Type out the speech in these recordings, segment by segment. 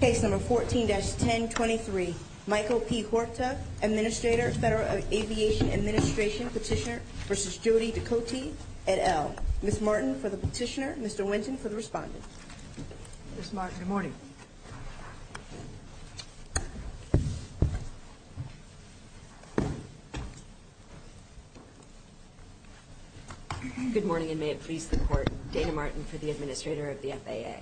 Case number 14-1023, Michael P. Huerta, Administrator, Federal Aviation Administration, Petitioner v. Jody Ducote et al. Ms. Martin for the Petitioner, Mr. Winton for the Respondent. Ms. Martin, good morning. Good morning, and may it please the Court, Dana Martin for the Administrator of the FAA.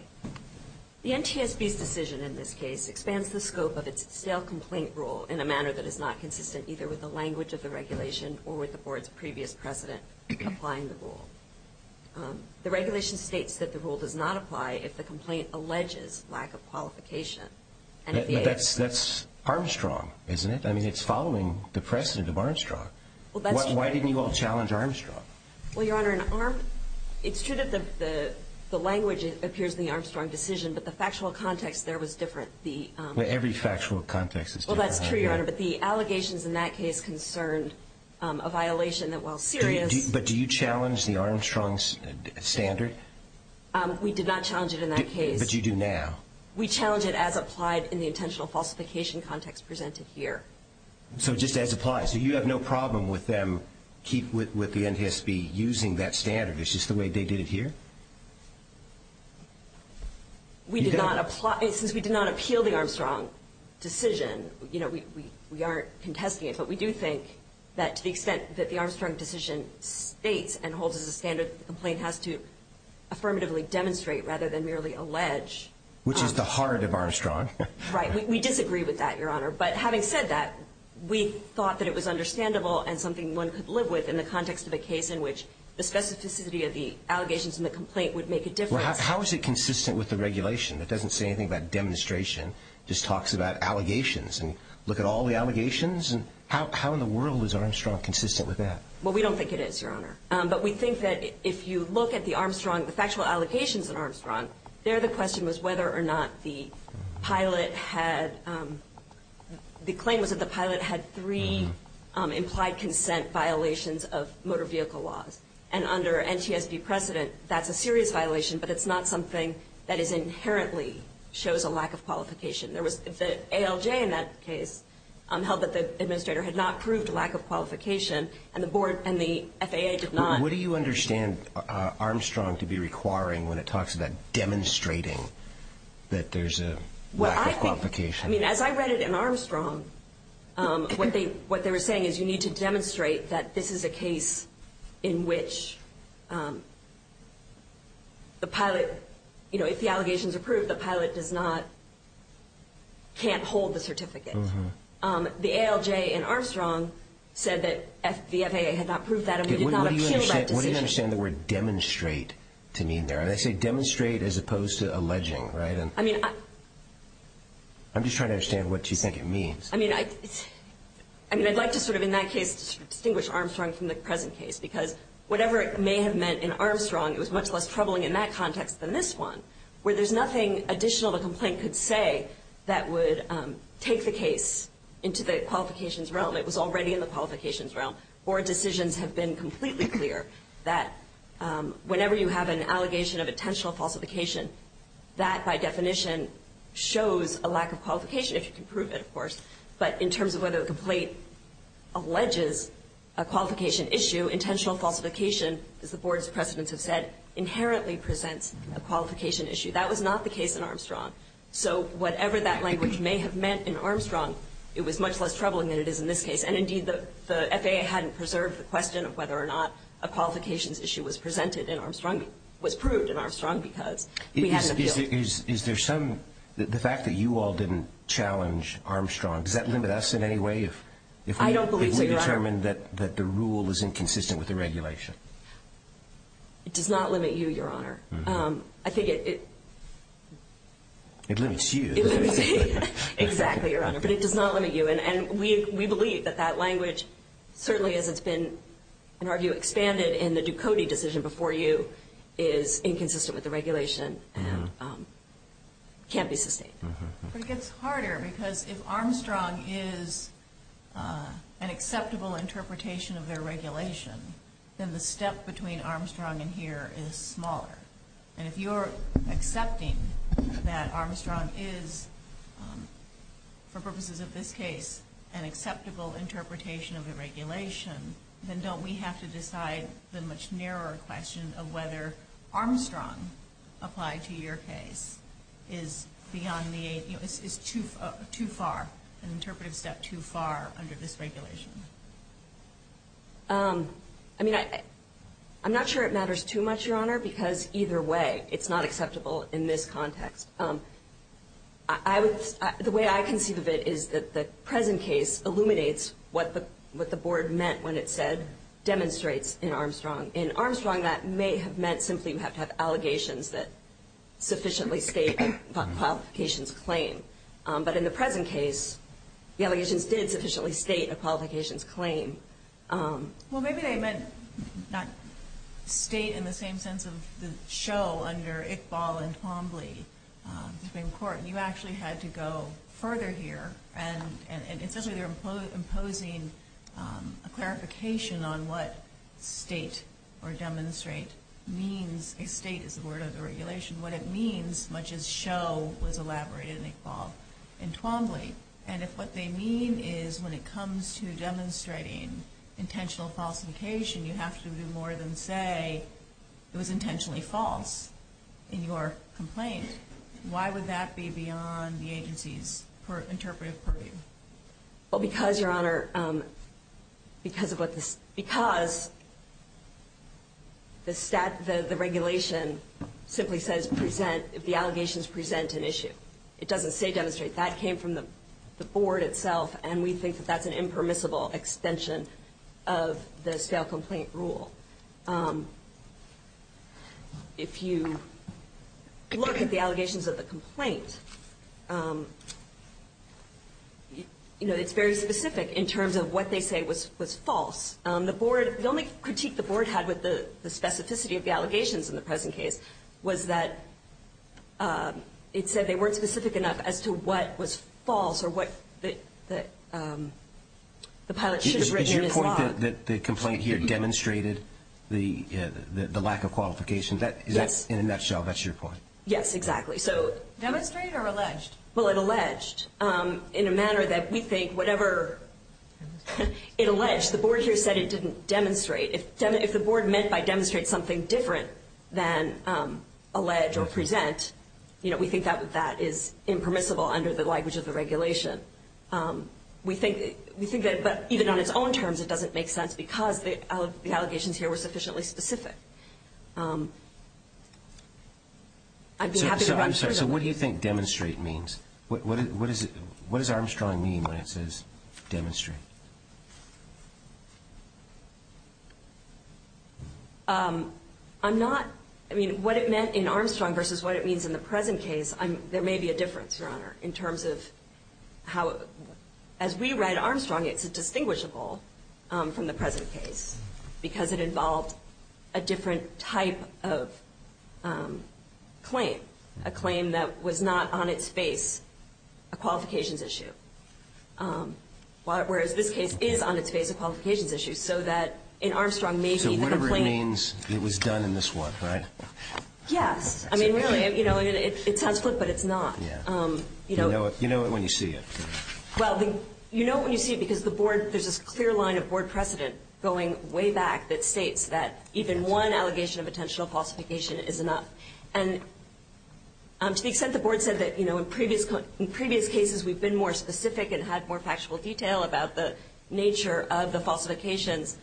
The NTSB's decision in this case expands the scope of its stale complaint rule in a manner that is not consistent either with the language of the regulation or with the Board's previous precedent applying the rule. The regulation states that the rule does not apply if the complaint alleges lack of qualification. But that's Armstrong, isn't it? I mean, it's following the precedent of Armstrong. Well, that's true. Why didn't you all challenge Armstrong? Well, Your Honor, it's true that the language appears in the Armstrong decision, but the factual context there was different. Every factual context is different. Well, that's true, Your Honor, but the allegations in that case concerned a violation that, while serious But do you challenge the Armstrong standard? We did not challenge it in that case. But you do now. We challenge it as applied in the intentional falsification context presented here. So just as applied. So you have no problem with them, with the NTSB, using that standard? It's just the way they did it here? We did not apply. Since we did not appeal the Armstrong decision, you know, we aren't contesting it. But we do think that to the extent that the Armstrong decision states and holds as a standard, the complaint has to affirmatively demonstrate rather than merely allege. Which is the heart of Armstrong. Right. We disagree with that, Your Honor. But having said that, we thought that it was understandable and something one could live with in the context of a case in which the specificity of the allegations in the complaint would make a difference. How is it consistent with the regulation? It doesn't say anything about demonstration. It just talks about allegations. And look at all the allegations? How in the world is Armstrong consistent with that? Well, we don't think it is, Your Honor. But we think that if you look at the Armstrong, the factual allegations in Armstrong, there the question was whether or not the pilot had the claim was that the pilot had three implied consent violations of motor vehicle laws. And under NTSB precedent, that's a serious violation, but it's not something that inherently shows a lack of qualification. The ALJ in that case held that the administrator had not proved a lack of qualification, and the board and the FAA did not. What do you understand Armstrong to be requiring when it talks about demonstrating that there's a lack of qualification? I mean, as I read it in Armstrong, what they were saying is you need to demonstrate that this is a case in which the pilot, you know, if the allegation is approved, the pilot does not, can't hold the certificate. The ALJ in Armstrong said that the FAA had not proved that and we did not appeal that decision. What do you understand the word demonstrate to mean there? They say demonstrate as opposed to alleging, right? I'm just trying to understand what you think it means. I mean, I'd like to sort of in that case distinguish Armstrong from the present case, because whatever it may have meant in Armstrong, it was much less troubling in that context than this one, where there's nothing additional the complaint could say that would take the case into the qualifications realm. It was already in the qualifications realm. Board decisions have been completely clear that whenever you have an allegation of intentional falsification, that by definition shows a lack of qualification, if you can prove it, of course. But in terms of whether the complaint alleges a qualification issue, intentional falsification, as the board's precedents have said, inherently presents a qualification issue. That was not the case in Armstrong. So whatever that language may have meant in Armstrong, it was much less troubling than it is in this case. And indeed, the FAA hadn't preserved the question of whether or not a qualifications issue was presented in Armstrong, was proved in Armstrong, because we had an appeal. Is there some ‑‑ the fact that you all didn't challenge Armstrong, does that limit us in any way? I don't believe so, Your Honor. If we determine that the rule is inconsistent with the regulation? It does not limit you, Your Honor. I think it ‑‑ It limits you. It limits me. Exactly, Your Honor. But it does not limit you. And we believe that that language, certainly as it's been, in our view, expanded in the Ducote decision before you, is inconsistent with the regulation and can't be sustained. But it gets harder, because if Armstrong is an acceptable interpretation of their regulation, then the step between Armstrong and here is smaller. And if you're accepting that Armstrong is, for purposes of this case, an acceptable interpretation of the regulation, then don't we have to decide the much narrower question of whether Armstrong, applied to your case, is beyond the ‑‑ is too far, an interpretive step too far under this regulation? I mean, I'm not sure it matters too much, Your Honor, because either way it's not acceptable in this context. The way I conceive of it is that the present case illuminates what the board meant when it said demonstrates in Armstrong. In Armstrong, that may have meant simply you have to have allegations that sufficiently state qualifications claim. But in the present case, the allegations did sufficiently state a qualifications claim. Well, maybe they meant not state in the same sense of the show under Iqbal and Pombly. You actually had to go further here. And essentially they're imposing a clarification on what state or demonstrate means. A state is the word of the regulation. What it means, much as show was elaborated in Iqbal and Pombly. And if what they mean is when it comes to demonstrating intentional falsification, you have to do more than say it was intentionally false in your complaint, why would that be beyond the agency's interpretive purview? Well, because, Your Honor, because the regulation simply says present if the allegations present an issue. It doesn't say demonstrate. That came from the board itself, and we think that that's an impermissible extension of the stale complaint rule. So if you look at the allegations of the complaint, you know, it's very specific in terms of what they say was false. The board, the only critique the board had with the specificity of the allegations in the present case was that it said they weren't specific enough as to what was false or what the pilot should have written as law. The point that the complaint here demonstrated the lack of qualification, in a nutshell, that's your point. Yes, exactly. Demonstrate or allege? Well, it alleged in a manner that we think whatever it alleged, the board here said it didn't demonstrate. If the board meant by demonstrate something different than allege or present, you know, we think that that is impermissible under the language of the regulation. We think that even on its own terms it doesn't make sense because the allegations here were sufficiently specific. I'd be happy to answer those. So what do you think demonstrate means? What does Armstrong mean when it says demonstrate? I'm not – I mean, what it meant in Armstrong versus what it means in the present case, there may be a difference, Your Honor, in terms of how – as we read Armstrong, it's distinguishable from the present case because it involved a different type of claim, a claim that was not on its face a qualifications issue, whereas this case is on its face a qualifications issue, so that in Armstrong maybe the complaint – So whatever it means, it was done in this one, right? Yes. I mean, really, you know, it sounds quick, but it's not. You know it when you see it. Well, you know it when you see it because the board – there's this clear line of board precedent going way back that states that even one allegation of intentional falsification is enough. And to the extent the board said that, you know, in previous cases we've been more specific and had more factual detail about the nature of the falsifications,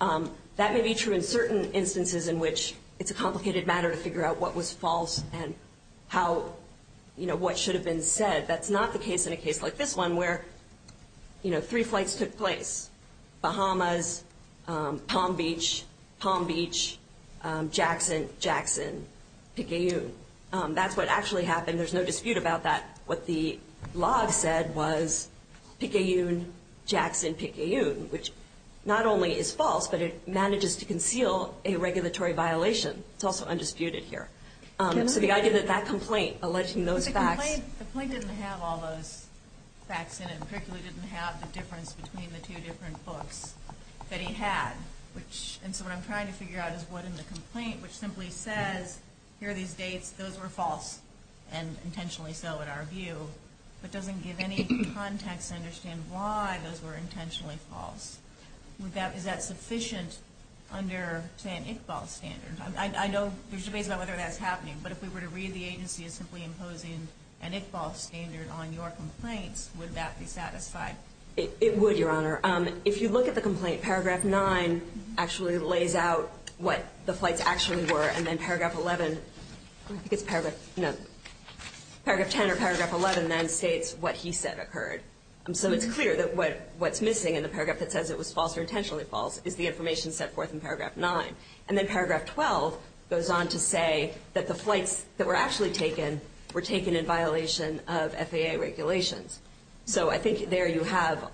that may be true in certain instances in which it's a complicated matter to figure out what was false and how – you know, what should have been said. That's not the case in a case like this one where, you know, three flights took place, Bahamas, Palm Beach, Palm Beach, Jackson, Jackson, Picayune. That's what actually happened. There's no dispute about that. What the log said was Picayune, Jackson, Picayune, which not only is false, but it manages to conceal a regulatory violation. It's also undisputed here. So the idea that that complaint alleging those facts – But the complaint didn't have all those facts in it. In particular, it didn't have the difference between the two different books that he had, which – and so what I'm trying to figure out is what in the complaint which simply says, here are these dates, those were false, and intentionally so in our view, but doesn't give any context to understand why those were intentionally false. Is that sufficient under, say, an Iqbal standard? I know there's debates about whether that's happening, but if we were to read the agency as simply imposing an Iqbal standard on your complaints, would that be satisfied? It would, Your Honor. If you look at the complaint, Paragraph 9 actually lays out what the flights actually were, and then Paragraph 10 or Paragraph 11 then states what he said occurred. So it's clear that what's missing in the paragraph that says it was false or intentionally false is the information set forth in Paragraph 9. And then Paragraph 12 goes on to say that the flights that were actually taken were taken in violation of FAA regulations. So I think there you have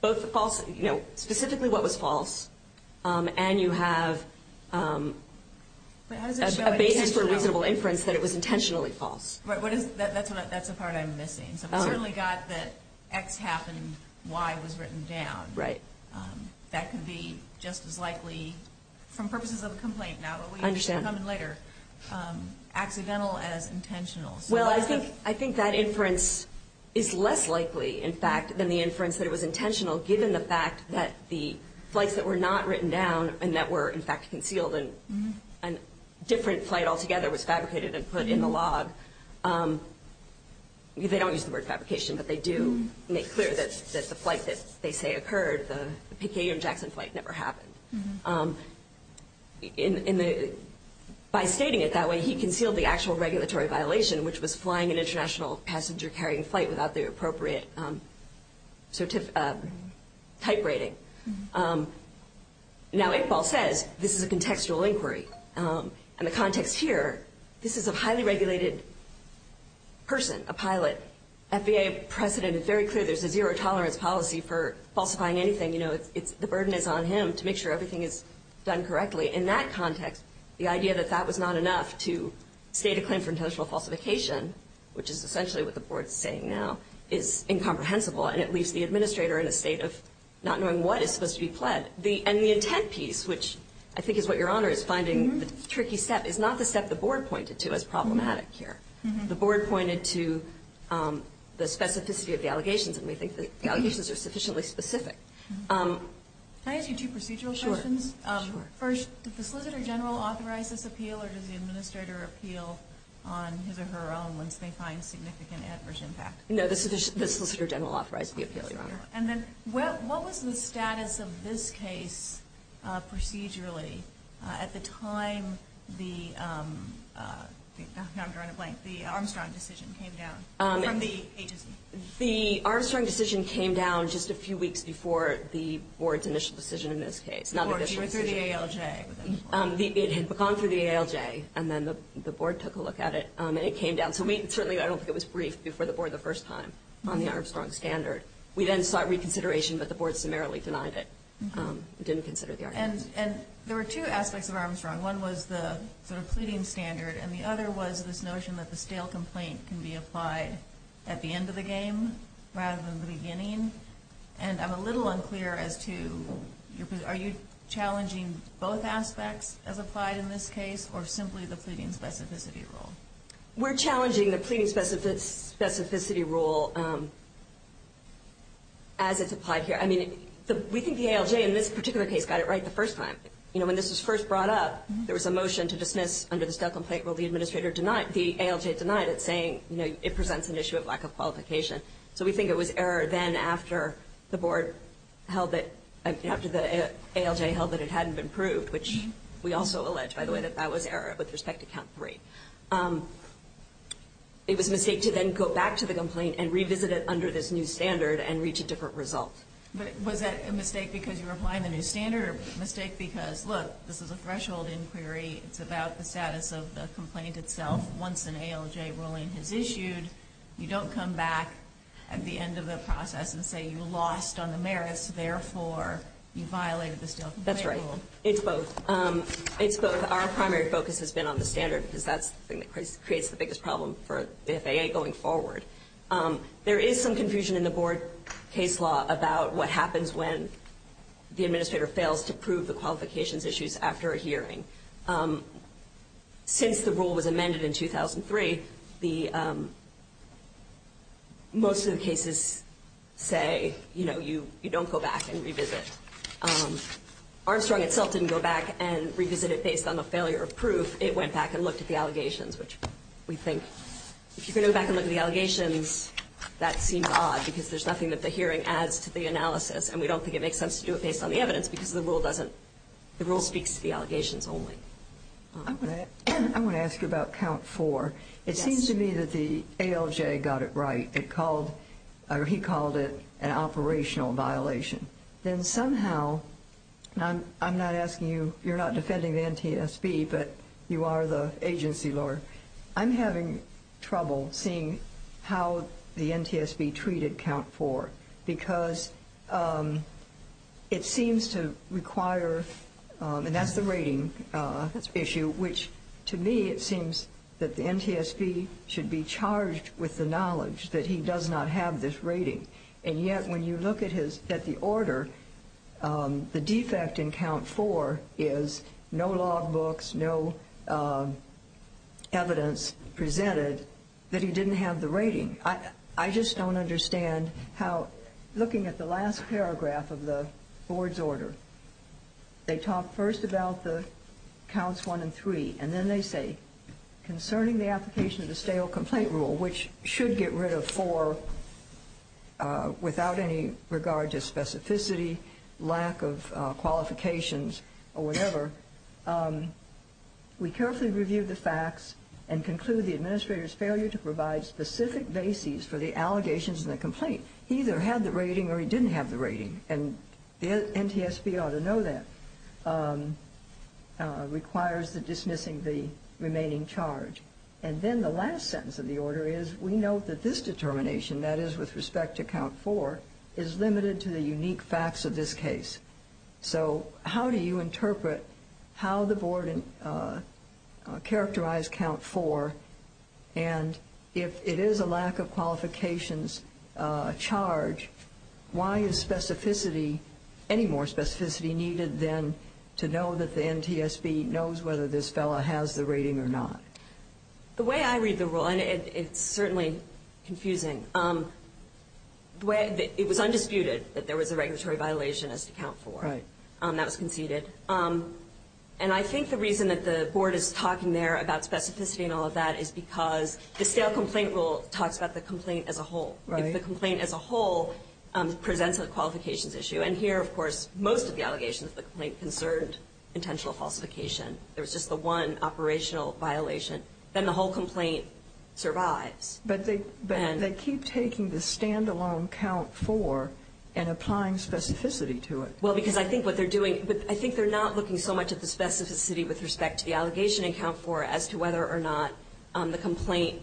both false, you know, specifically what was false, and you have a basis for reasonable inference that it was intentionally false. That's the part I'm missing. So we certainly got that X happened, Y was written down. Right. That could be just as likely, from purposes of a complaint now, but we can come in later, accidental as intentional. Well, I think that inference is less likely, in fact, than the inference that it was intentional, given the fact that the flights that were not written down and that were, in fact, concealed and a different flight altogether was fabricated and put in the log. They don't use the word fabrication, but they do make clear that the flight that they say occurred, the P.K.M. Jackson flight, never happened. By stating it that way, he concealed the actual regulatory violation, which was flying an international passenger-carrying flight without the appropriate type rating. Now, Iqbal says this is a contextual inquiry. And the context here, this is a highly regulated person, a pilot. FAA precedent is very clear. There's a zero-tolerance policy for falsifying anything. You know, the burden is on him to make sure everything is done correctly. In that context, the idea that that was not enough to state a claim for intentional falsification, which is essentially what the Board is saying now, is incomprehensible, and it leaves the administrator in a state of not knowing what is supposed to be pled. And the intent piece, which I think is what Your Honor is finding the tricky step, is not the step the Board pointed to as problematic here. The Board pointed to the specificity of the allegations, and we think the allegations are sufficiently specific. Can I ask you two procedural questions? Sure. First, did the Solicitor General authorize this appeal, or does the administrator appeal on his or her own once they find significant adverse impact? No, the Solicitor General authorized the appeal, Your Honor. And then what was the status of this case procedurally at the time the Armstrong decision came down from the agency? The Armstrong decision came down just a few weeks before the Board's initial decision in this case. The Board went through the ALJ. It had gone through the ALJ, and then the Board took a look at it, and it came down. So certainly I don't think it was briefed before the Board the first time on the Armstrong standard. We then sought reconsideration, but the Board summarily denied it. It didn't consider the Armstrong. And there were two aspects of Armstrong. One was the sort of pleading standard, and the other was this notion that the stale complaint can be applied at the end of the game rather than the beginning. And I'm a little unclear as to are you challenging both aspects as applied in this case or simply the pleading specificity rule? We're challenging the pleading specificity rule as it's applied here. I mean, we think the ALJ in this particular case got it right the first time. When this was first brought up, there was a motion to dismiss under the stale complaint rule. The ALJ denied it, saying it presents an issue of lack of qualification. So we think it was error then after the ALJ held that it hadn't been proved, which we also allege, by the way, that that was error with respect to count three. It was a mistake to then go back to the complaint and revisit it under this new standard and reach a different result. But was that a mistake because you were applying the new standard or a mistake because, look, this is a threshold inquiry. It's about the status of the complaint itself. Once an ALJ ruling is issued, you don't come back at the end of the process and say you lost on the merits. Therefore, you violated the stale complaint rule. That's right. It's both. It's both. Our primary focus has been on the standard because that's the thing that creates the biggest problem for the FAA going forward. There is some confusion in the board case law about what happens when the administrator fails to prove the qualifications issues after a hearing. Since the rule was amended in 2003, most of the cases say, you know, you don't go back and revisit. Armstrong itself didn't go back and revisit it based on the failure of proof. It went back and looked at the allegations, which we think, if you're going to go back and look at the allegations, that seems odd because there's nothing that the hearing adds to the analysis, and we don't think it makes sense to do it based on the evidence because the rule doesn't, the rule speaks to the allegations only. I want to ask you about count four. It seems to me that the ALJ got it right. It called, or he called it an operational violation. Then somehow, I'm not asking you, you're not defending the NTSB, but you are the agency lawyer. I'm having trouble seeing how the NTSB treated count four because it seems to require, and that's the rating issue, which to me it seems that the NTSB should be charged with the knowledge that he does not have this rating. And yet when you look at the order, the defect in count four is no log books, no evidence presented that he didn't have the rating. I just don't understand how, looking at the last paragraph of the board's order, they talk first about the counts one and three, and then they say concerning the application of the stale complaint rule, which should get rid of four without any regard to specificity, lack of qualifications, or whatever, we carefully reviewed the facts and conclude the administrator's failure to provide specific bases for the allegations in the complaint, he either had the rating or he didn't have the rating, and the NTSB ought to know that, requires dismissing the remaining charge. And then the last sentence of the order is we note that this determination, that is with respect to count four, is limited to the unique facts of this case. So how do you interpret how the board characterized count four, and if it is a lack of qualifications charge, why is specificity, any more specificity needed than to know that the NTSB knows whether this fellow has the rating or not? The way I read the rule, and it's certainly confusing, it was undisputed that there was a regulatory violation as to count four. That was conceded. And I think the reason that the board is talking there about specificity and all of that is because the stale complaint rule talks about the complaint as a whole. If the complaint as a whole presents a qualifications issue, and here, of course, most of the allegations of the complaint concerned intentional falsification. There was just the one operational violation. Then the whole complaint survives. But they keep taking the standalone count four and applying specificity to it. Well, because I think what they're doing, I think they're not looking so much at the specificity with respect to the allegation in count four as to whether or not the complaint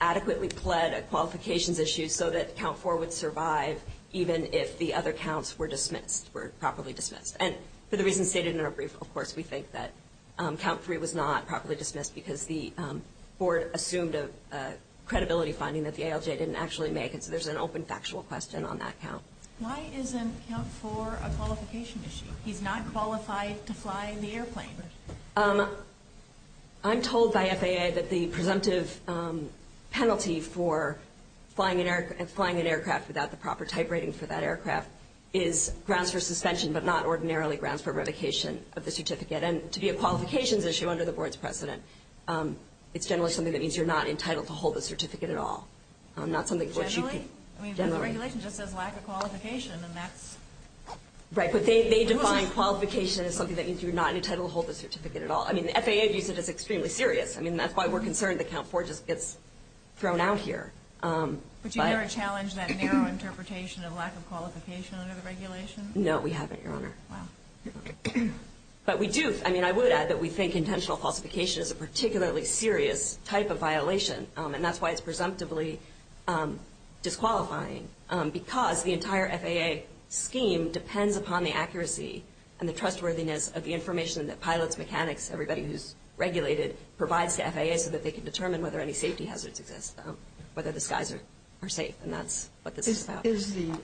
adequately pled a qualifications issue so that count four would survive even if the other counts were dismissed, were properly dismissed. And for the reasons stated in our brief, of course, we think that count three was not properly dismissed because the board assumed a credibility finding that the ALJ didn't actually make, and so there's an open factual question on that count. Why isn't count four a qualification issue? He's not qualified to fly the airplane. I'm told by FAA that the presumptive penalty for flying an aircraft without the proper type rating for that aircraft is grounds for suspension, but not ordinarily grounds for revocation of the certificate. And to be a qualifications issue under the board's precedent, it's generally something that means you're not entitled to hold the certificate at all. Generally? Generally. I mean, the regulation just says lack of qualification, and that's... Right, but they define qualification as something that means you're not entitled to hold the certificate at all. I mean, the FAA views it as extremely serious. I mean, that's why we're concerned that count four just gets thrown out here. But you've never challenged that narrow interpretation of lack of qualification under the regulation? No, we haven't, Your Honor. Wow. But we do. I mean, I would add that we think intentional falsification is a particularly serious type of violation, and that's why it's presumptively disqualifying, because the entire FAA scheme depends upon the accuracy and the trustworthiness of the information that pilots, mechanics, everybody who's regulated provides to FAA so that they can determine whether any safety hazards exist, whether the skies are safe, and that's what this is about. Is the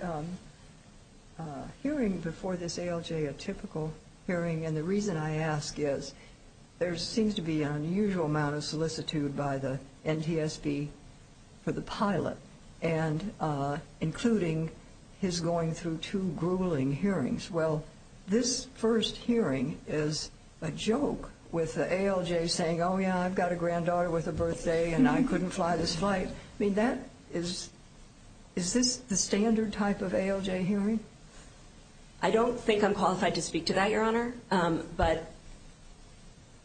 hearing before this ALJ a typical hearing? And the reason I ask is there seems to be an unusual amount of solicitude by the NTSB for the pilot, including his going through two grueling hearings. Well, this first hearing is a joke with the ALJ saying, oh, yeah, I've got a granddaughter with a birthday, and I couldn't fly this flight. I mean, is this the standard type of ALJ hearing? I don't think I'm qualified to speak to that, Your Honor. But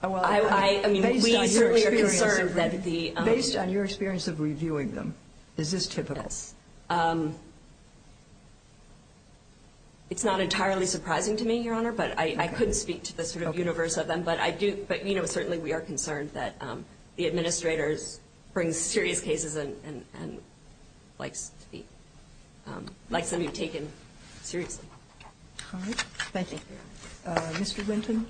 I mean, we certainly are concerned that the – Based on your experience of reviewing them, is this typical? Yes. It's not entirely surprising to me, Your Honor, but I couldn't speak to the sort of universe of them. But I do – but, you know, certainly we are concerned that the administrators bring serious cases and likes them to be taken seriously. All right. Thank you, Your Honor. Mr. Winton.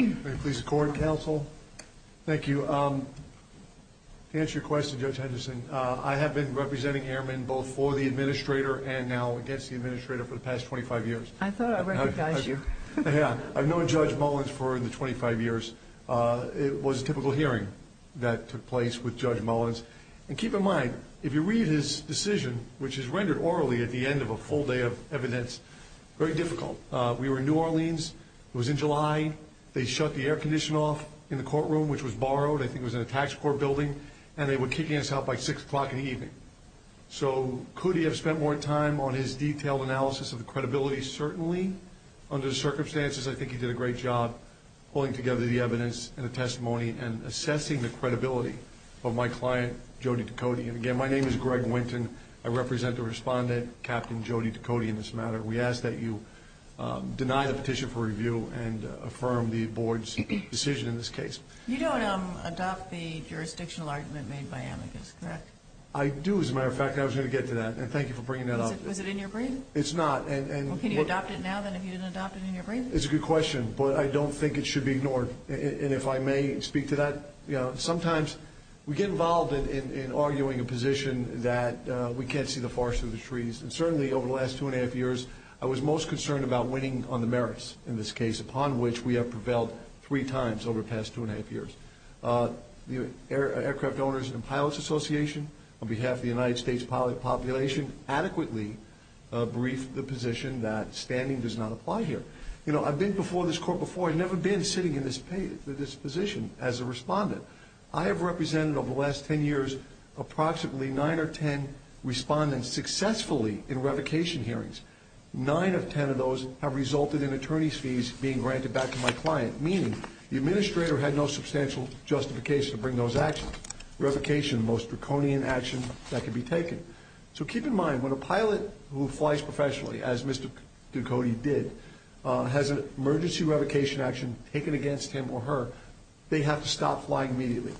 May it please the court, counsel? Thank you. To answer your question, Judge Henderson, I have been representing Airmen both for the administrator and now against the administrator for the past 25 years. I thought I recognized you. Yeah. I've known Judge Mullins for the 25 years. It was a typical hearing that took place with Judge Mullins. And keep in mind, if you read his decision, which is rendered orally at the end of a full day of evidence, very difficult. We were in New Orleans. It was in July. They shut the air condition off in the courtroom, which was borrowed. I think it was in a tax court building. And they were kicking us out by 6 o'clock in the evening. So could he have spent more time on his detailed analysis of the credibility? Certainly, under the circumstances, I think he did a great job pulling together the evidence and the testimony and assessing the credibility of my client, Jody DeCote. And, again, my name is Greg Winton. I represent the respondent, Captain Jody DeCote, in this matter. We ask that you deny the petition for review and affirm the board's decision in this case. You don't adopt the jurisdictional argument made by Amicus, correct? I do, as a matter of fact. I was going to get to that. And thank you for bringing that up. Was it in your brain? It's not. Well, can you adopt it now, then, if you didn't adopt it in your brain? It's a good question, but I don't think it should be ignored. And if I may speak to that, sometimes we get involved in arguing a position that we can't see the forest through the trees. And, certainly, over the last two and a half years, I was most concerned about winning on the merits in this case, upon which we have prevailed three times over the past two and a half years. The Aircraft Owners and Pilots Association, on behalf of the United States pilot population, adequately briefed the position that standing does not apply here. You know, I've been before this court before. I've never been sitting in this position as a respondent. I have represented over the last ten years approximately nine or ten respondents successfully in revocation hearings. Nine of ten of those have resulted in attorney's fees being granted back to my client, meaning the administrator had no substantial justification to bring those actions. Revocation, the most draconian action that could be taken. So keep in mind, when a pilot who flies professionally, as Mr. Ducote did, has an emergency revocation action taken against him or her, they have to stop flying immediately.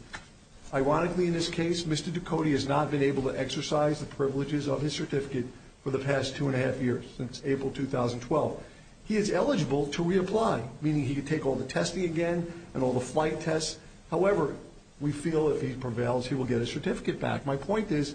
Ironically, in this case, Mr. Ducote has not been able to exercise the privileges of his certificate for the past two and a half years, since April 2012. He is eligible to reapply, meaning he can take all the testing again and all the flight tests. However, we feel if he prevails, he will get his certificate back. My point is,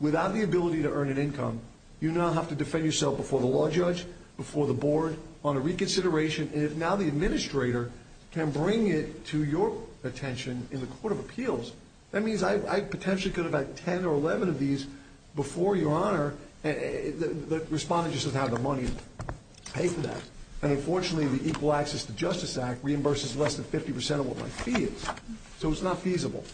without the ability to earn an income, you now have to defend yourself before the law judge, before the board, on a reconsideration. And if now the administrator can bring it to your attention in the Court of Appeals, that means I potentially could have had ten or eleven of these before Your Honor. The respondent just doesn't have the money to pay for that. And, unfortunately, the Equal Access to Justice Act reimburses less than 50% of what my fee is. So it's not feasible.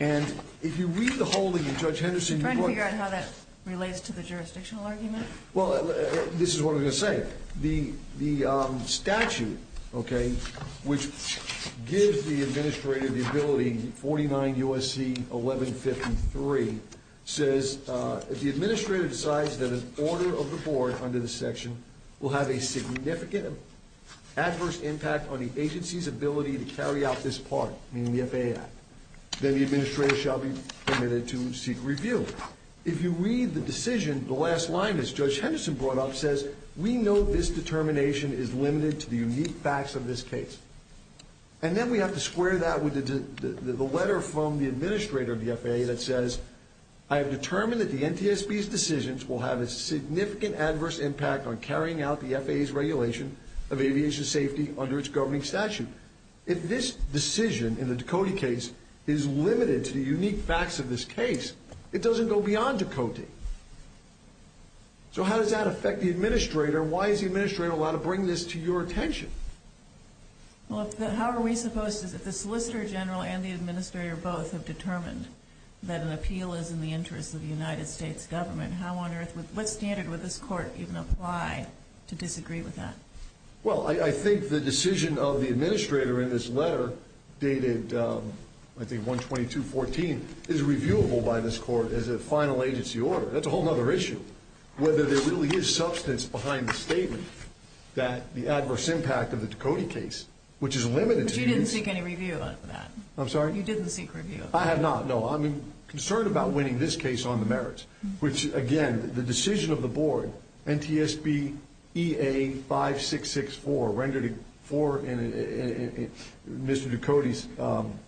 And if you read the whole thing in Judge Henderson's book. Are you trying to figure out how that relates to the jurisdictional argument? Well, this is what I'm going to say. The statute, okay, which gives the administrator the ability, 49 U.S.C. 1153, says if the administrator decides that an order of the board under this section will have a significant adverse impact on the agency's ability to carry out this part, meaning the FAA Act, then the administrator shall be permitted to seek review. If you read the decision, the last line, as Judge Henderson brought up, says, we know this determination is limited to the unique facts of this case. And then we have to square that with the letter from the administrator of the FAA that says, I have determined that the NTSB's decisions will have a significant adverse impact on carrying out the FAA's regulation of aviation safety under its governing statute. If this decision in the Ducote case is limited to the unique facts of this case, it doesn't go beyond Ducote. So how does that affect the administrator? Why is the administrator allowed to bring this to your attention? Well, how are we supposed to, if the solicitor general and the administrator both have determined that an appeal is in the interest of the United States government, how on earth, what standard would this court even apply to disagree with that? Well, I think the decision of the administrator in this letter, dated, I think, 122.14, is reviewable by this court as a final agency order. That's a whole other issue. Whether there really is substance behind the statement that the adverse impact of the Ducote case, which is limited to the unique... But you didn't seek any review on that. I'm sorry? You didn't seek review. I have not, no. I'm concerned about winning this case on the merits. Which, again, the decision of the board, NTSB EA 5664, rendered for Mr. Ducote's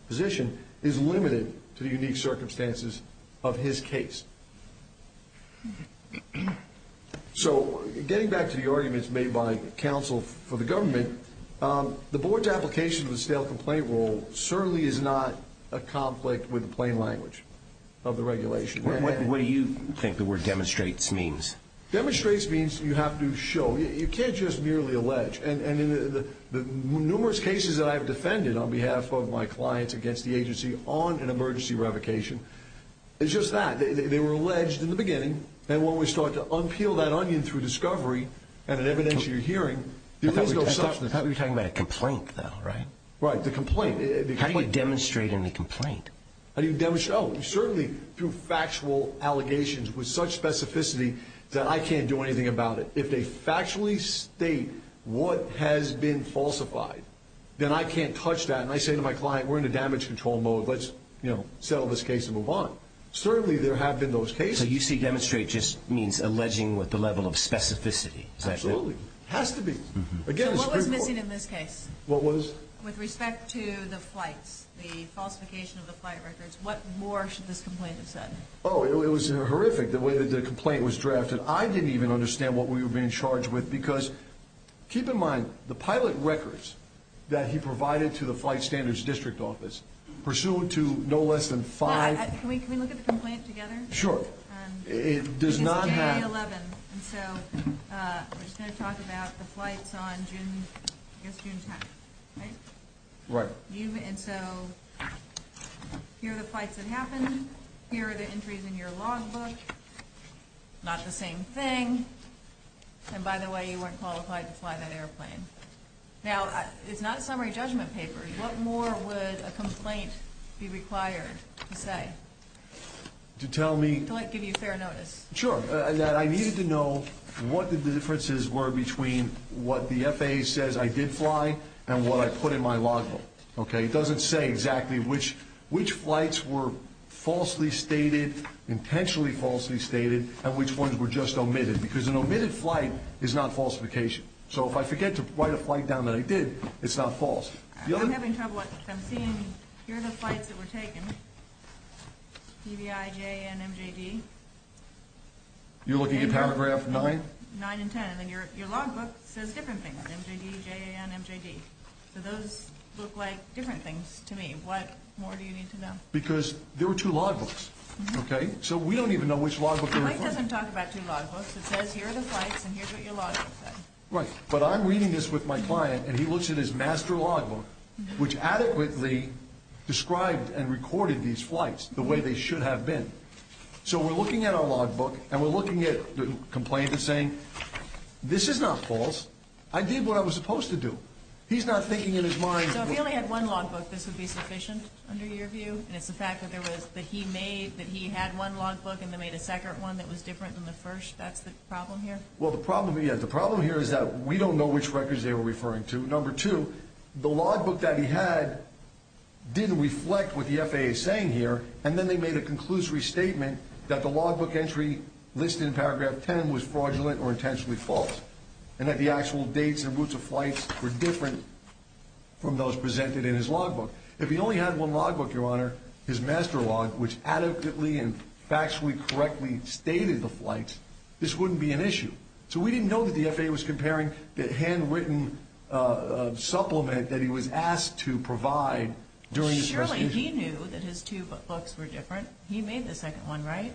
position, is limited to the unique circumstances of his case. So getting back to the arguments made by counsel for the government, the board's application of the stale complaint rule certainly is not a conflict with the plain language of the regulation. What do you think the word demonstrates means? Demonstrates means you have to show. You can't just merely allege. And in the numerous cases that I have defended on behalf of my clients against the agency on an emergency revocation, it's just that. They were alleged in the beginning, and when we start to unpeel that onion through discovery and an evidentiary hearing, there is no substance. I thought we were talking about a complaint, though, right? Right, the complaint. How do you demonstrate in a complaint? How do you demonstrate? Oh, certainly through factual allegations with such specificity that I can't do anything about it. If they factually state what has been falsified, then I can't touch that, and I say to my client, we're in a damage control mode, let's settle this case and move on. Certainly there have been those cases. So you see demonstrate just means alleging with the level of specificity. Absolutely. It has to be. So what was missing in this case? What was? With respect to the flights, the falsification of the flight records, what more should this complaint have said? Oh, it was horrific, the way that the complaint was drafted. I didn't even understand what we were being charged with because, keep in mind, the pilot records that he provided to the Flight Standards District Office, pursuant to no less than five- Can we look at the complaint together? Sure. It's January 11th, and so we're just going to talk about the flights on June 10th, right? Right. And so here are the flights that happened. Here are the entries in your logbook. Not the same thing. And by the way, you weren't qualified to fly that airplane. Now, it's not a summary judgment paper. What more would a complaint be required to say? To tell me- To give you fair notice. Sure, that I needed to know what the differences were between what the FAA says I did fly and what I put in my logbook. Okay? It doesn't say exactly which flights were falsely stated, intentionally falsely stated, and which ones were just omitted because an omitted flight is not falsification. So if I forget to write a flight down that I did, it's not false. I'm having trouble. Here are the flights that were taken, DBIJ and MJD. You're looking at paragraph 9? 9 and 10. And then your logbook says different things, MJD, JAN, MJD. So those look like different things to me. What more do you need to know? Because there were two logbooks, okay? So we don't even know which logbook they were from. The flight doesn't talk about two logbooks. It says here are the flights and here's what your logbook said. Right. But I'm reading this with my client, and he looks at his master logbook, which adequately described and recorded these flights the way they should have been. So we're looking at our logbook, and we're looking at the complaint that's saying, this is not false. I did what I was supposed to do. He's not thinking in his mind. So if he only had one logbook, this would be sufficient under your view? And it's the fact that he made that he had one logbook and then made a second one that was different than the first? That's the problem here? Well, the problem here is that we don't know which records they were referring to. Number two, the logbook that he had didn't reflect what the FAA is saying here, and then they made a conclusory statement that the logbook entry listed in paragraph 10 was fraudulent or intentionally false, and that the actual dates and routes of flights were different from those presented in his logbook. If he only had one logbook, Your Honor, his master log, which adequately and factually correctly stated the flights, this wouldn't be an issue. So we didn't know that the FAA was comparing the handwritten supplement that he was asked to provide during his presentation. Surely he knew that his two books were different. He made the second one, right?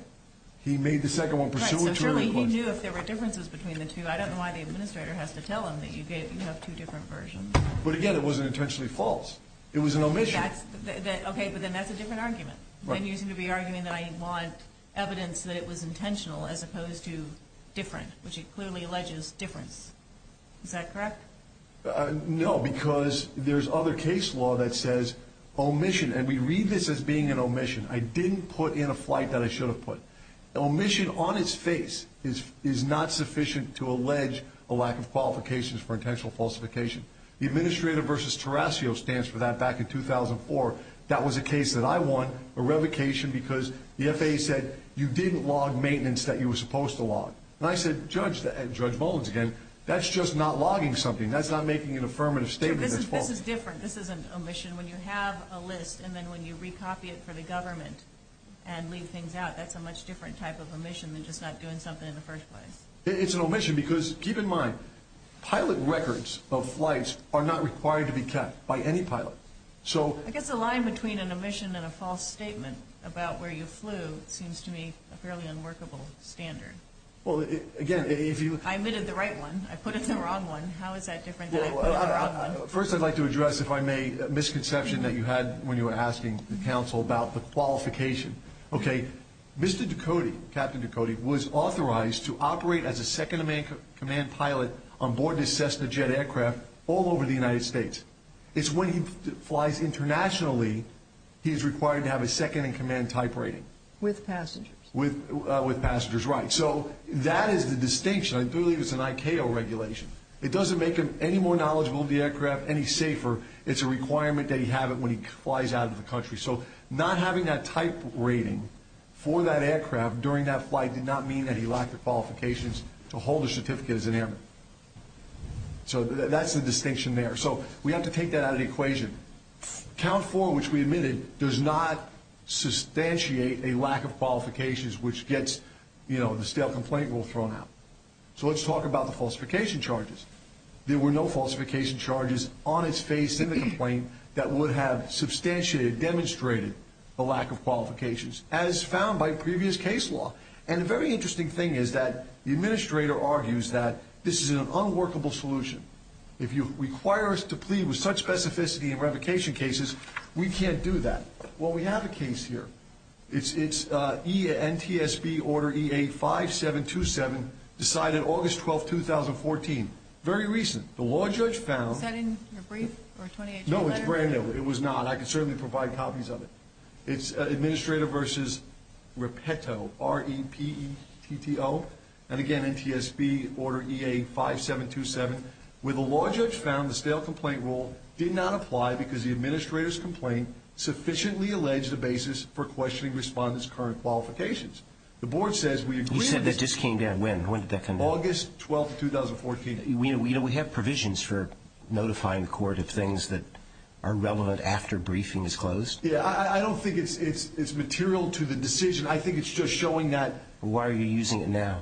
He made the second one pursuant to the request. So surely he knew if there were differences between the two. I don't know why the administrator has to tell him that you have two different versions. But again, it wasn't intentionally false. It was an omission. Okay, but then that's a different argument. Then you seem to be arguing that I want evidence that it was intentional as opposed to different, which it clearly alleges difference. Is that correct? No, because there's other case law that says omission. And we read this as being an omission. I didn't put in a flight that I should have put. Omission on its face is not sufficient to allege a lack of qualifications for intentional falsification. The Administrator v. Tarassio stands for that back in 2004. That was a case that I won, a revocation, because the FAA said you didn't log maintenance that you were supposed to log. And I said, Judge Mullins again, that's just not logging something. That's not making an affirmative statement that's false. This is different. This isn't omission. When you have a list and then when you recopy it for the government and leave things out, that's a much different type of omission than just not doing something in the first place. It's an omission because, keep in mind, pilot records of flights are not required to be kept by any pilot. I guess the line between an omission and a false statement about where you flew seems to me a fairly unworkable standard. Well, again, if you – I omitted the right one. I put in the wrong one. How is that different than I put in the wrong one? First, I'd like to address, if I may, a misconception that you had when you were asking the counsel about the qualification. Okay. Mr. Ducote, Captain Ducote, was authorized to operate as a second-in-command pilot onboard his Cessna jet aircraft all over the United States. It's when he flies internationally he is required to have a second-in-command type rating. With passengers. With passengers, right. So that is the distinction. I believe it's an ICAO regulation. It doesn't make him any more knowledgeable of the aircraft, any safer. It's a requirement that he have it when he flies out of the country. So not having that type rating for that aircraft during that flight did not mean that he lacked the qualifications to hold a certificate as an airman. So that's the distinction there. So we have to take that out of the equation. Count 4, which we admitted, does not substantiate a lack of qualifications, which gets, you know, the stale complaint rule thrown out. So let's talk about the falsification charges. There were no falsification charges on its face in the complaint that would have substantiated, demonstrated the lack of qualifications, as found by previous case law. And a very interesting thing is that the administrator argues that this is an unworkable solution. If you require us to plead with such specificity in revocation cases, we can't do that. Well, we have a case here. It's NTSB Order EA5727, decided August 12, 2014. Very recent. The law judge found. Is that in your brief or 28-year letter? No, it's brand new. It was not. I can certainly provide copies of it. It's Administrator versus Repetto, R-E-P-E-T-T-O. And again, NTSB Order EA5727, where the law judge found the stale complaint rule did not apply because the administrator's complaint sufficiently alleged a basis for questioning respondents' current qualifications. The board says we agree. You said that just came down when? When did that come down? August 12, 2014. You know, we have provisions for notifying the court of things that are relevant after briefing is closed. Yeah, I don't think it's material to the decision. I think it's just showing that. Why are you using it now?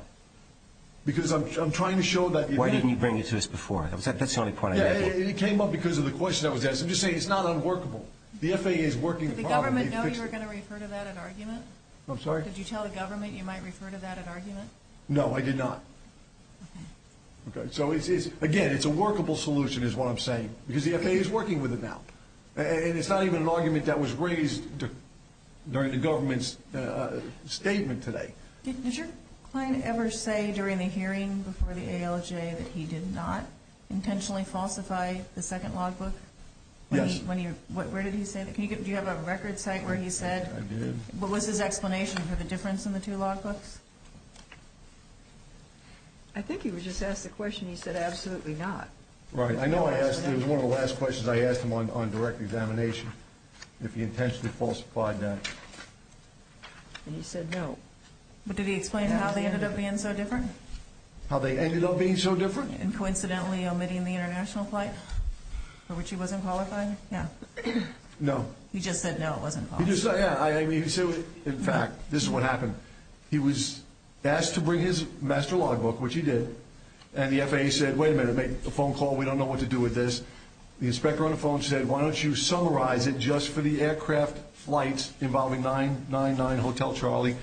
Because I'm trying to show that. Why didn't you bring it to us before? That's the only point I'm making. It came up because of the question I was asking. I'm just saying it's not unworkable. The FAA is working properly. Did the government know you were going to refer to that in argument? I'm sorry? Did you tell the government you might refer to that in argument? No, I did not. Okay. So, again, it's a workable solution is what I'm saying because the FAA is working with it now. And it's not even an argument that was raised during the government's statement today. Did your client ever say during the hearing before the ALJ that he did not intentionally falsify the second logbook? Yes. Where did he say that? Do you have a record site where he said? I did. What was his explanation for the difference in the two logbooks? I think he was just asked the question. He said, absolutely not. Right. I know I asked him. It was one of the last questions I asked him on direct examination if he intentionally falsified that. And he said, no. But did he explain how they ended up being so different? How they ended up being so different? In coincidentally omitting the international flight for which he wasn't qualified? Yeah. No. He just said, no, it wasn't qualified. He just said, yeah. I mean, in fact, this is what happened. He was asked to bring his master logbook, which he did. And the FAA said, wait a minute, make a phone call. We don't know what to do with this. The inspector on the phone said, why don't you summarize it just for the aircraft flights involving 999 Hotel Charlie?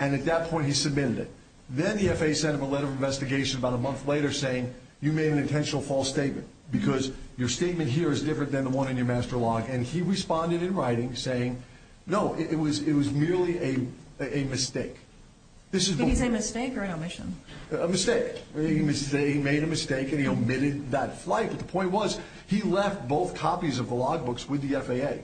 And at that point, he submitted it. Then the FAA sent him a letter of investigation about a month later saying, you made an intentional false statement because your statement here is different than the one in your master log. And he responded in writing saying, no, it was merely a mistake. Did he say mistake or an omission? A mistake. He made a mistake and he omitted that flight. But the point was he left both copies of the logbooks with the FAA.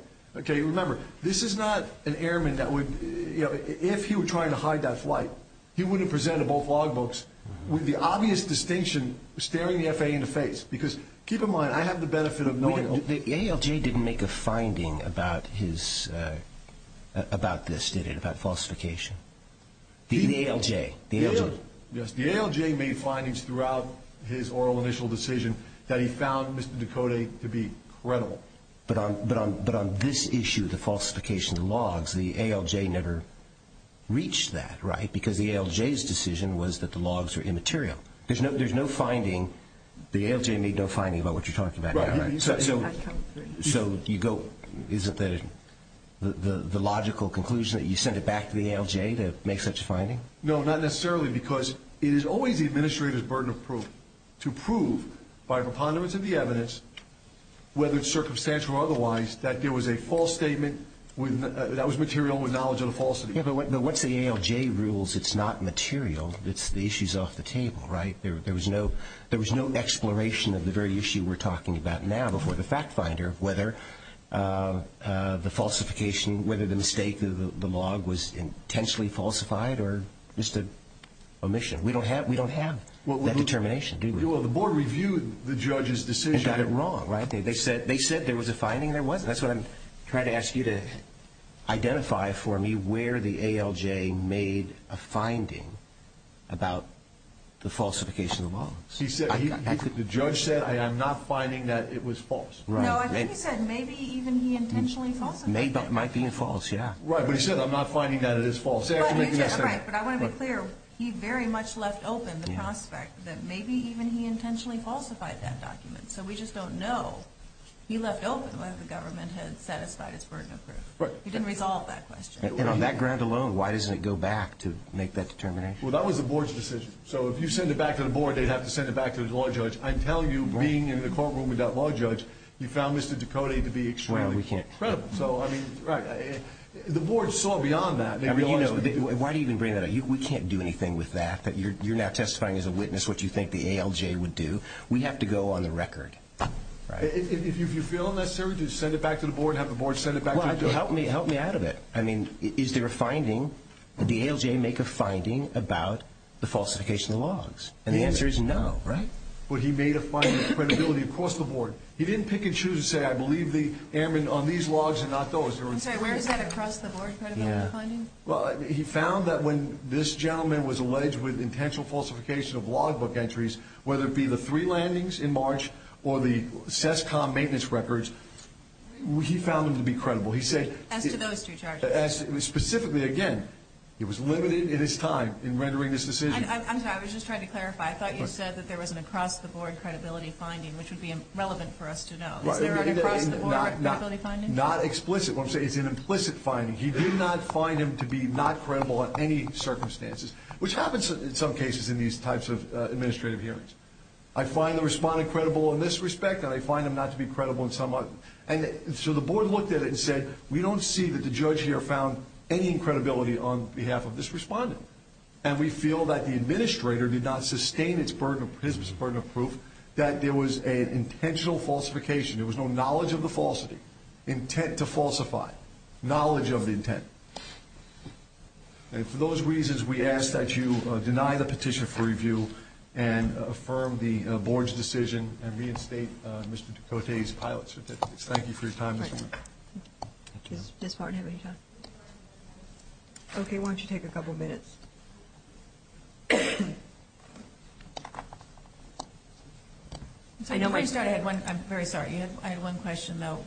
Remember, this is not an airman that would, if he were trying to hide that flight, he wouldn't present both logbooks with the obvious distinction staring the FAA in the face. Because keep in mind, I have the benefit of knowing. The ALJ didn't make a finding about this, did it, about falsification? The ALJ. The ALJ. Yes, the ALJ made findings throughout his oral initial decision that he found Mr. Ducote to be credible. But on this issue, the falsification of the logs, the ALJ never reached that, right? Because the ALJ's decision was that the logs were immaterial. There's no finding. The ALJ made no finding about what you're talking about now, right? Right. So you go, is it the logical conclusion that you sent it back to the ALJ to make such a finding? No, not necessarily, because it is always the administrator's burden of proof to prove, by preponderance of the evidence, whether it's circumstantial or otherwise, that there was a false statement that was material with knowledge of the falsity. Yeah, but once the ALJ rules it's not material, the issue's off the table, right? There was no exploration of the very issue we're talking about now before the fact finder, whether the falsification, whether the mistake of the log was intentionally falsified or just an omission. We don't have that determination, do we? Well, the board reviewed the judge's decision. And got it wrong, right? They said there was a finding. There wasn't. That's what I'm trying to ask you to identify for me where the ALJ made a finding about the falsification of the logs. The judge said, I am not finding that it was false. No, I think he said maybe even he intentionally falsified it. Might be false, yeah. Right, but he said, I'm not finding that it is false. But I want to be clear, he very much left open the prospect that maybe even he intentionally falsified that document. So we just don't know. He left open whether the government had satisfied its burden of proof. He didn't resolve that question. And on that ground alone, why doesn't it go back to make that determination? Well, that was the board's decision. So if you send it back to the board, they'd have to send it back to the law judge. I tell you, being in the courtroom without a law judge, you found Mr. Ducote to be extremely credible. So, I mean, right. The board saw beyond that. Why do you even bring that up? We can't do anything with that. You're now testifying as a witness what you think the ALJ would do. We have to go on the record. If you feel it necessary to send it back to the board, have the board send it back to the judge. Help me out of it. I mean, is there a finding? Did the ALJ make a finding about the falsification of the logs? And the answer is no, right? But he made a finding of credibility across the board. He didn't pick and choose and say, I believe the airmen on these logs and not those. I'm sorry, where is that across the board, credibility finding? Well, he found that when this gentleman was alleged with intentional falsification of logbook entries, whether it be the three landings in March or the CESCOM maintenance records, he found them to be credible. As to those two charges? Specifically, again, he was limited in his time in rendering this decision. I'm sorry. I was just trying to clarify. I thought you said that there was an across the board credibility finding, which would be relevant for us to know. Is there an across the board credibility finding? Not explicit. What I'm saying is it's an implicit finding. He did not find him to be not credible in any circumstances, which happens in some cases in these types of administrative hearings. I find the respondent credible in this respect, and I find him not to be credible in some other. And so the board looked at it and said, we don't see that the judge here found any credibility on behalf of this respondent. And we feel that the administrator did not sustain his burden of proof that there was an intentional falsification. There was no knowledge of the falsity, intent to falsify, knowledge of the intent. And for those reasons, we ask that you deny the petition for review and affirm the board's decision and reinstate Mr. Ducote's pilot certificates. Thank you for your time this morning. Does this partner have any time? Okay. Why don't you take a couple minutes? Before we start, I'm very sorry. I had one question, though.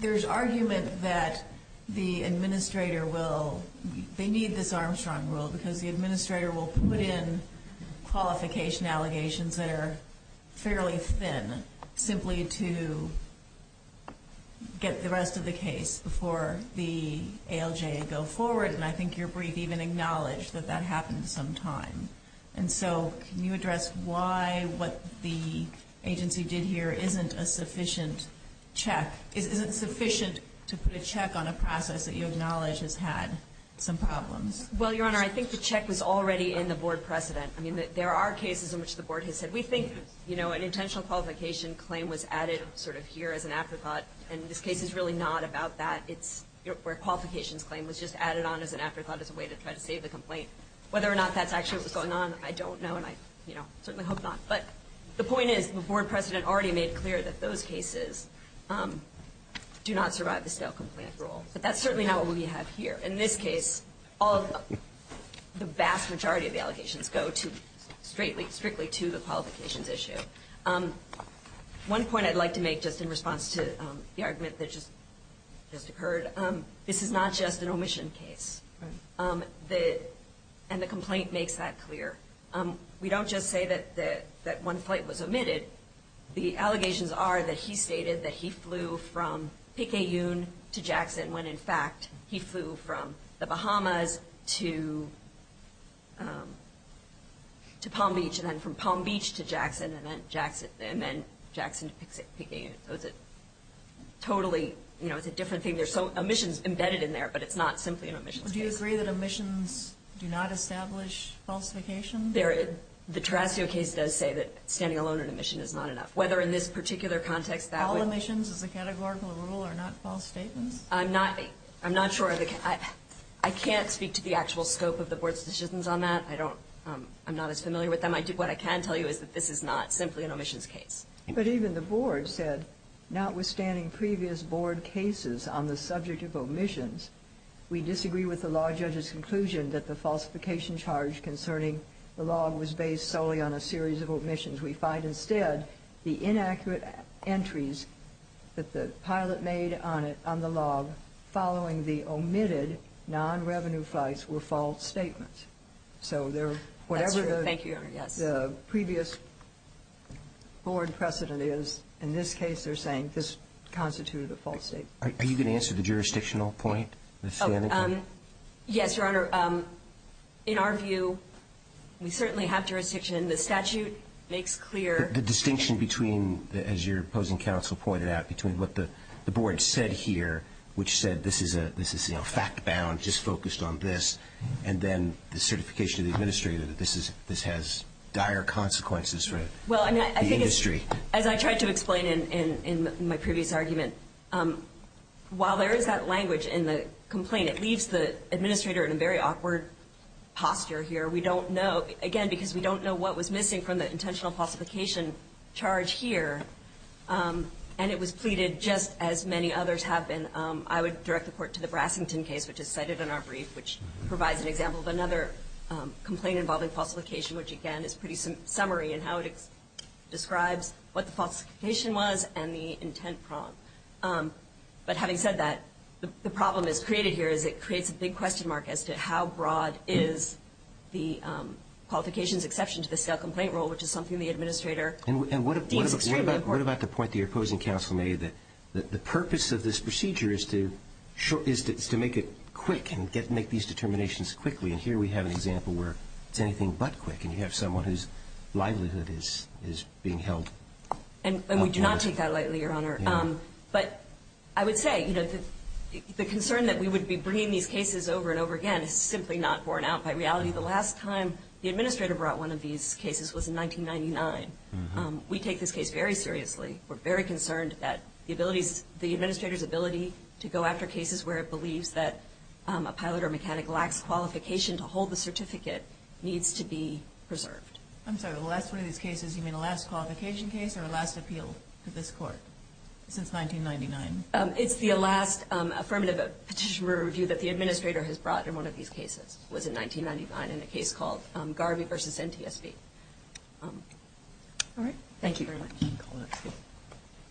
There's argument that the administrator will need this Armstrong rule because the administrator will put in qualification allegations that are fairly thin simply to get the rest of the case before the ALJ go forward. And I think your brief even acknowledged that that happened some time. And so can you address why what the agency did here isn't a sufficient check, isn't sufficient to put a check on a process that you acknowledge has had some problems? Well, Your Honor, I think the check was already in the board precedent. I mean, there are cases in which the board has said, we think an intentional qualification claim was added sort of here as an afterthought, and this case is really not about that. It's where qualifications claim was just added on as an afterthought as a way to try to save the complaint. Whether or not that's actually what was going on, I don't know, and I certainly hope not. But the point is the board precedent already made clear that those cases do not survive the stale complaint rule. But that's certainly not what we have here. In this case, the vast majority of the allegations go strictly to the qualifications issue. One point I'd like to make just in response to the argument that just occurred, this is not just an omission case. And the complaint makes that clear. We don't just say that one flight was omitted. The allegations are that he stated that he flew from Pique Un to Jackson, when in fact he flew from the Bahamas to Palm Beach, and then from Palm Beach to Jackson, and then Jackson to Pique Un. So it's a totally, you know, it's a different thing. There's omissions embedded in there, but it's not simply an omission case. Do you agree that omissions do not establish falsification? The Terrasio case does say that standing alone in omission is not enough. Whether in this particular context that would be... All omissions as a categorical rule are not false statements? I'm not sure. I can't speak to the actual scope of the board's decisions on that. I'm not as familiar with them. What I can tell you is that this is not simply an omissions case. But even the board said, notwithstanding previous board cases on the subject of omissions, we disagree with the law judge's conclusion that the falsification charge concerning the log was based solely on a series of omissions. We find instead the inaccurate entries that the pilot made on the log, following the omitted non-revenue flights, were false statements. So whatever the previous board precedent is, in this case they're saying this constituted a false statement. Are you going to answer the jurisdictional point? Yes, Your Honor. In our view, we certainly have jurisdiction. The statute makes clear... The distinction between, as your opposing counsel pointed out, between what the board said here, which said this is fact-bound, just focused on this, and then the certification of the administrator that this has dire consequences for the industry. As I tried to explain in my previous argument, while there is that language in the complaint, it leaves the administrator in a very awkward posture here. We don't know, again, because we don't know what was missing from the intentional falsification charge here. And it was pleaded just as many others have been. I would direct the Court to the Brassington case, which is cited in our brief, which provides an example of another complaint involving falsification, which, again, is pretty summary in how it describes what the falsification was and the intent problem. But having said that, the problem that's created here is it creates a big question mark as to how broad is the qualifications exception to the stale complaint rule, which is something the administrator deems extremely important. And what about the point that your opposing counsel made, that the purpose of this procedure is to make it quick and make these determinations quickly? And here we have an example where it's anything but quick, and you have someone whose livelihood is being held. And we do not take that lightly, Your Honor. But I would say the concern that we would be bringing these cases over and over again is simply not borne out by reality. The last time the administrator brought one of these cases was in 1999. We take this case very seriously. We're very concerned that the administrator's ability to go after cases where it believes that a pilot or mechanic lacks qualification to hold the certificate needs to be preserved. I'm sorry, the last one of these cases, you mean a last qualification case or a last appeal to this Court since 1999? It's the last affirmative petition review that the administrator has brought in one of these cases was in 1999, in a case called Garvey v. NTSB. All right. Thank you very much.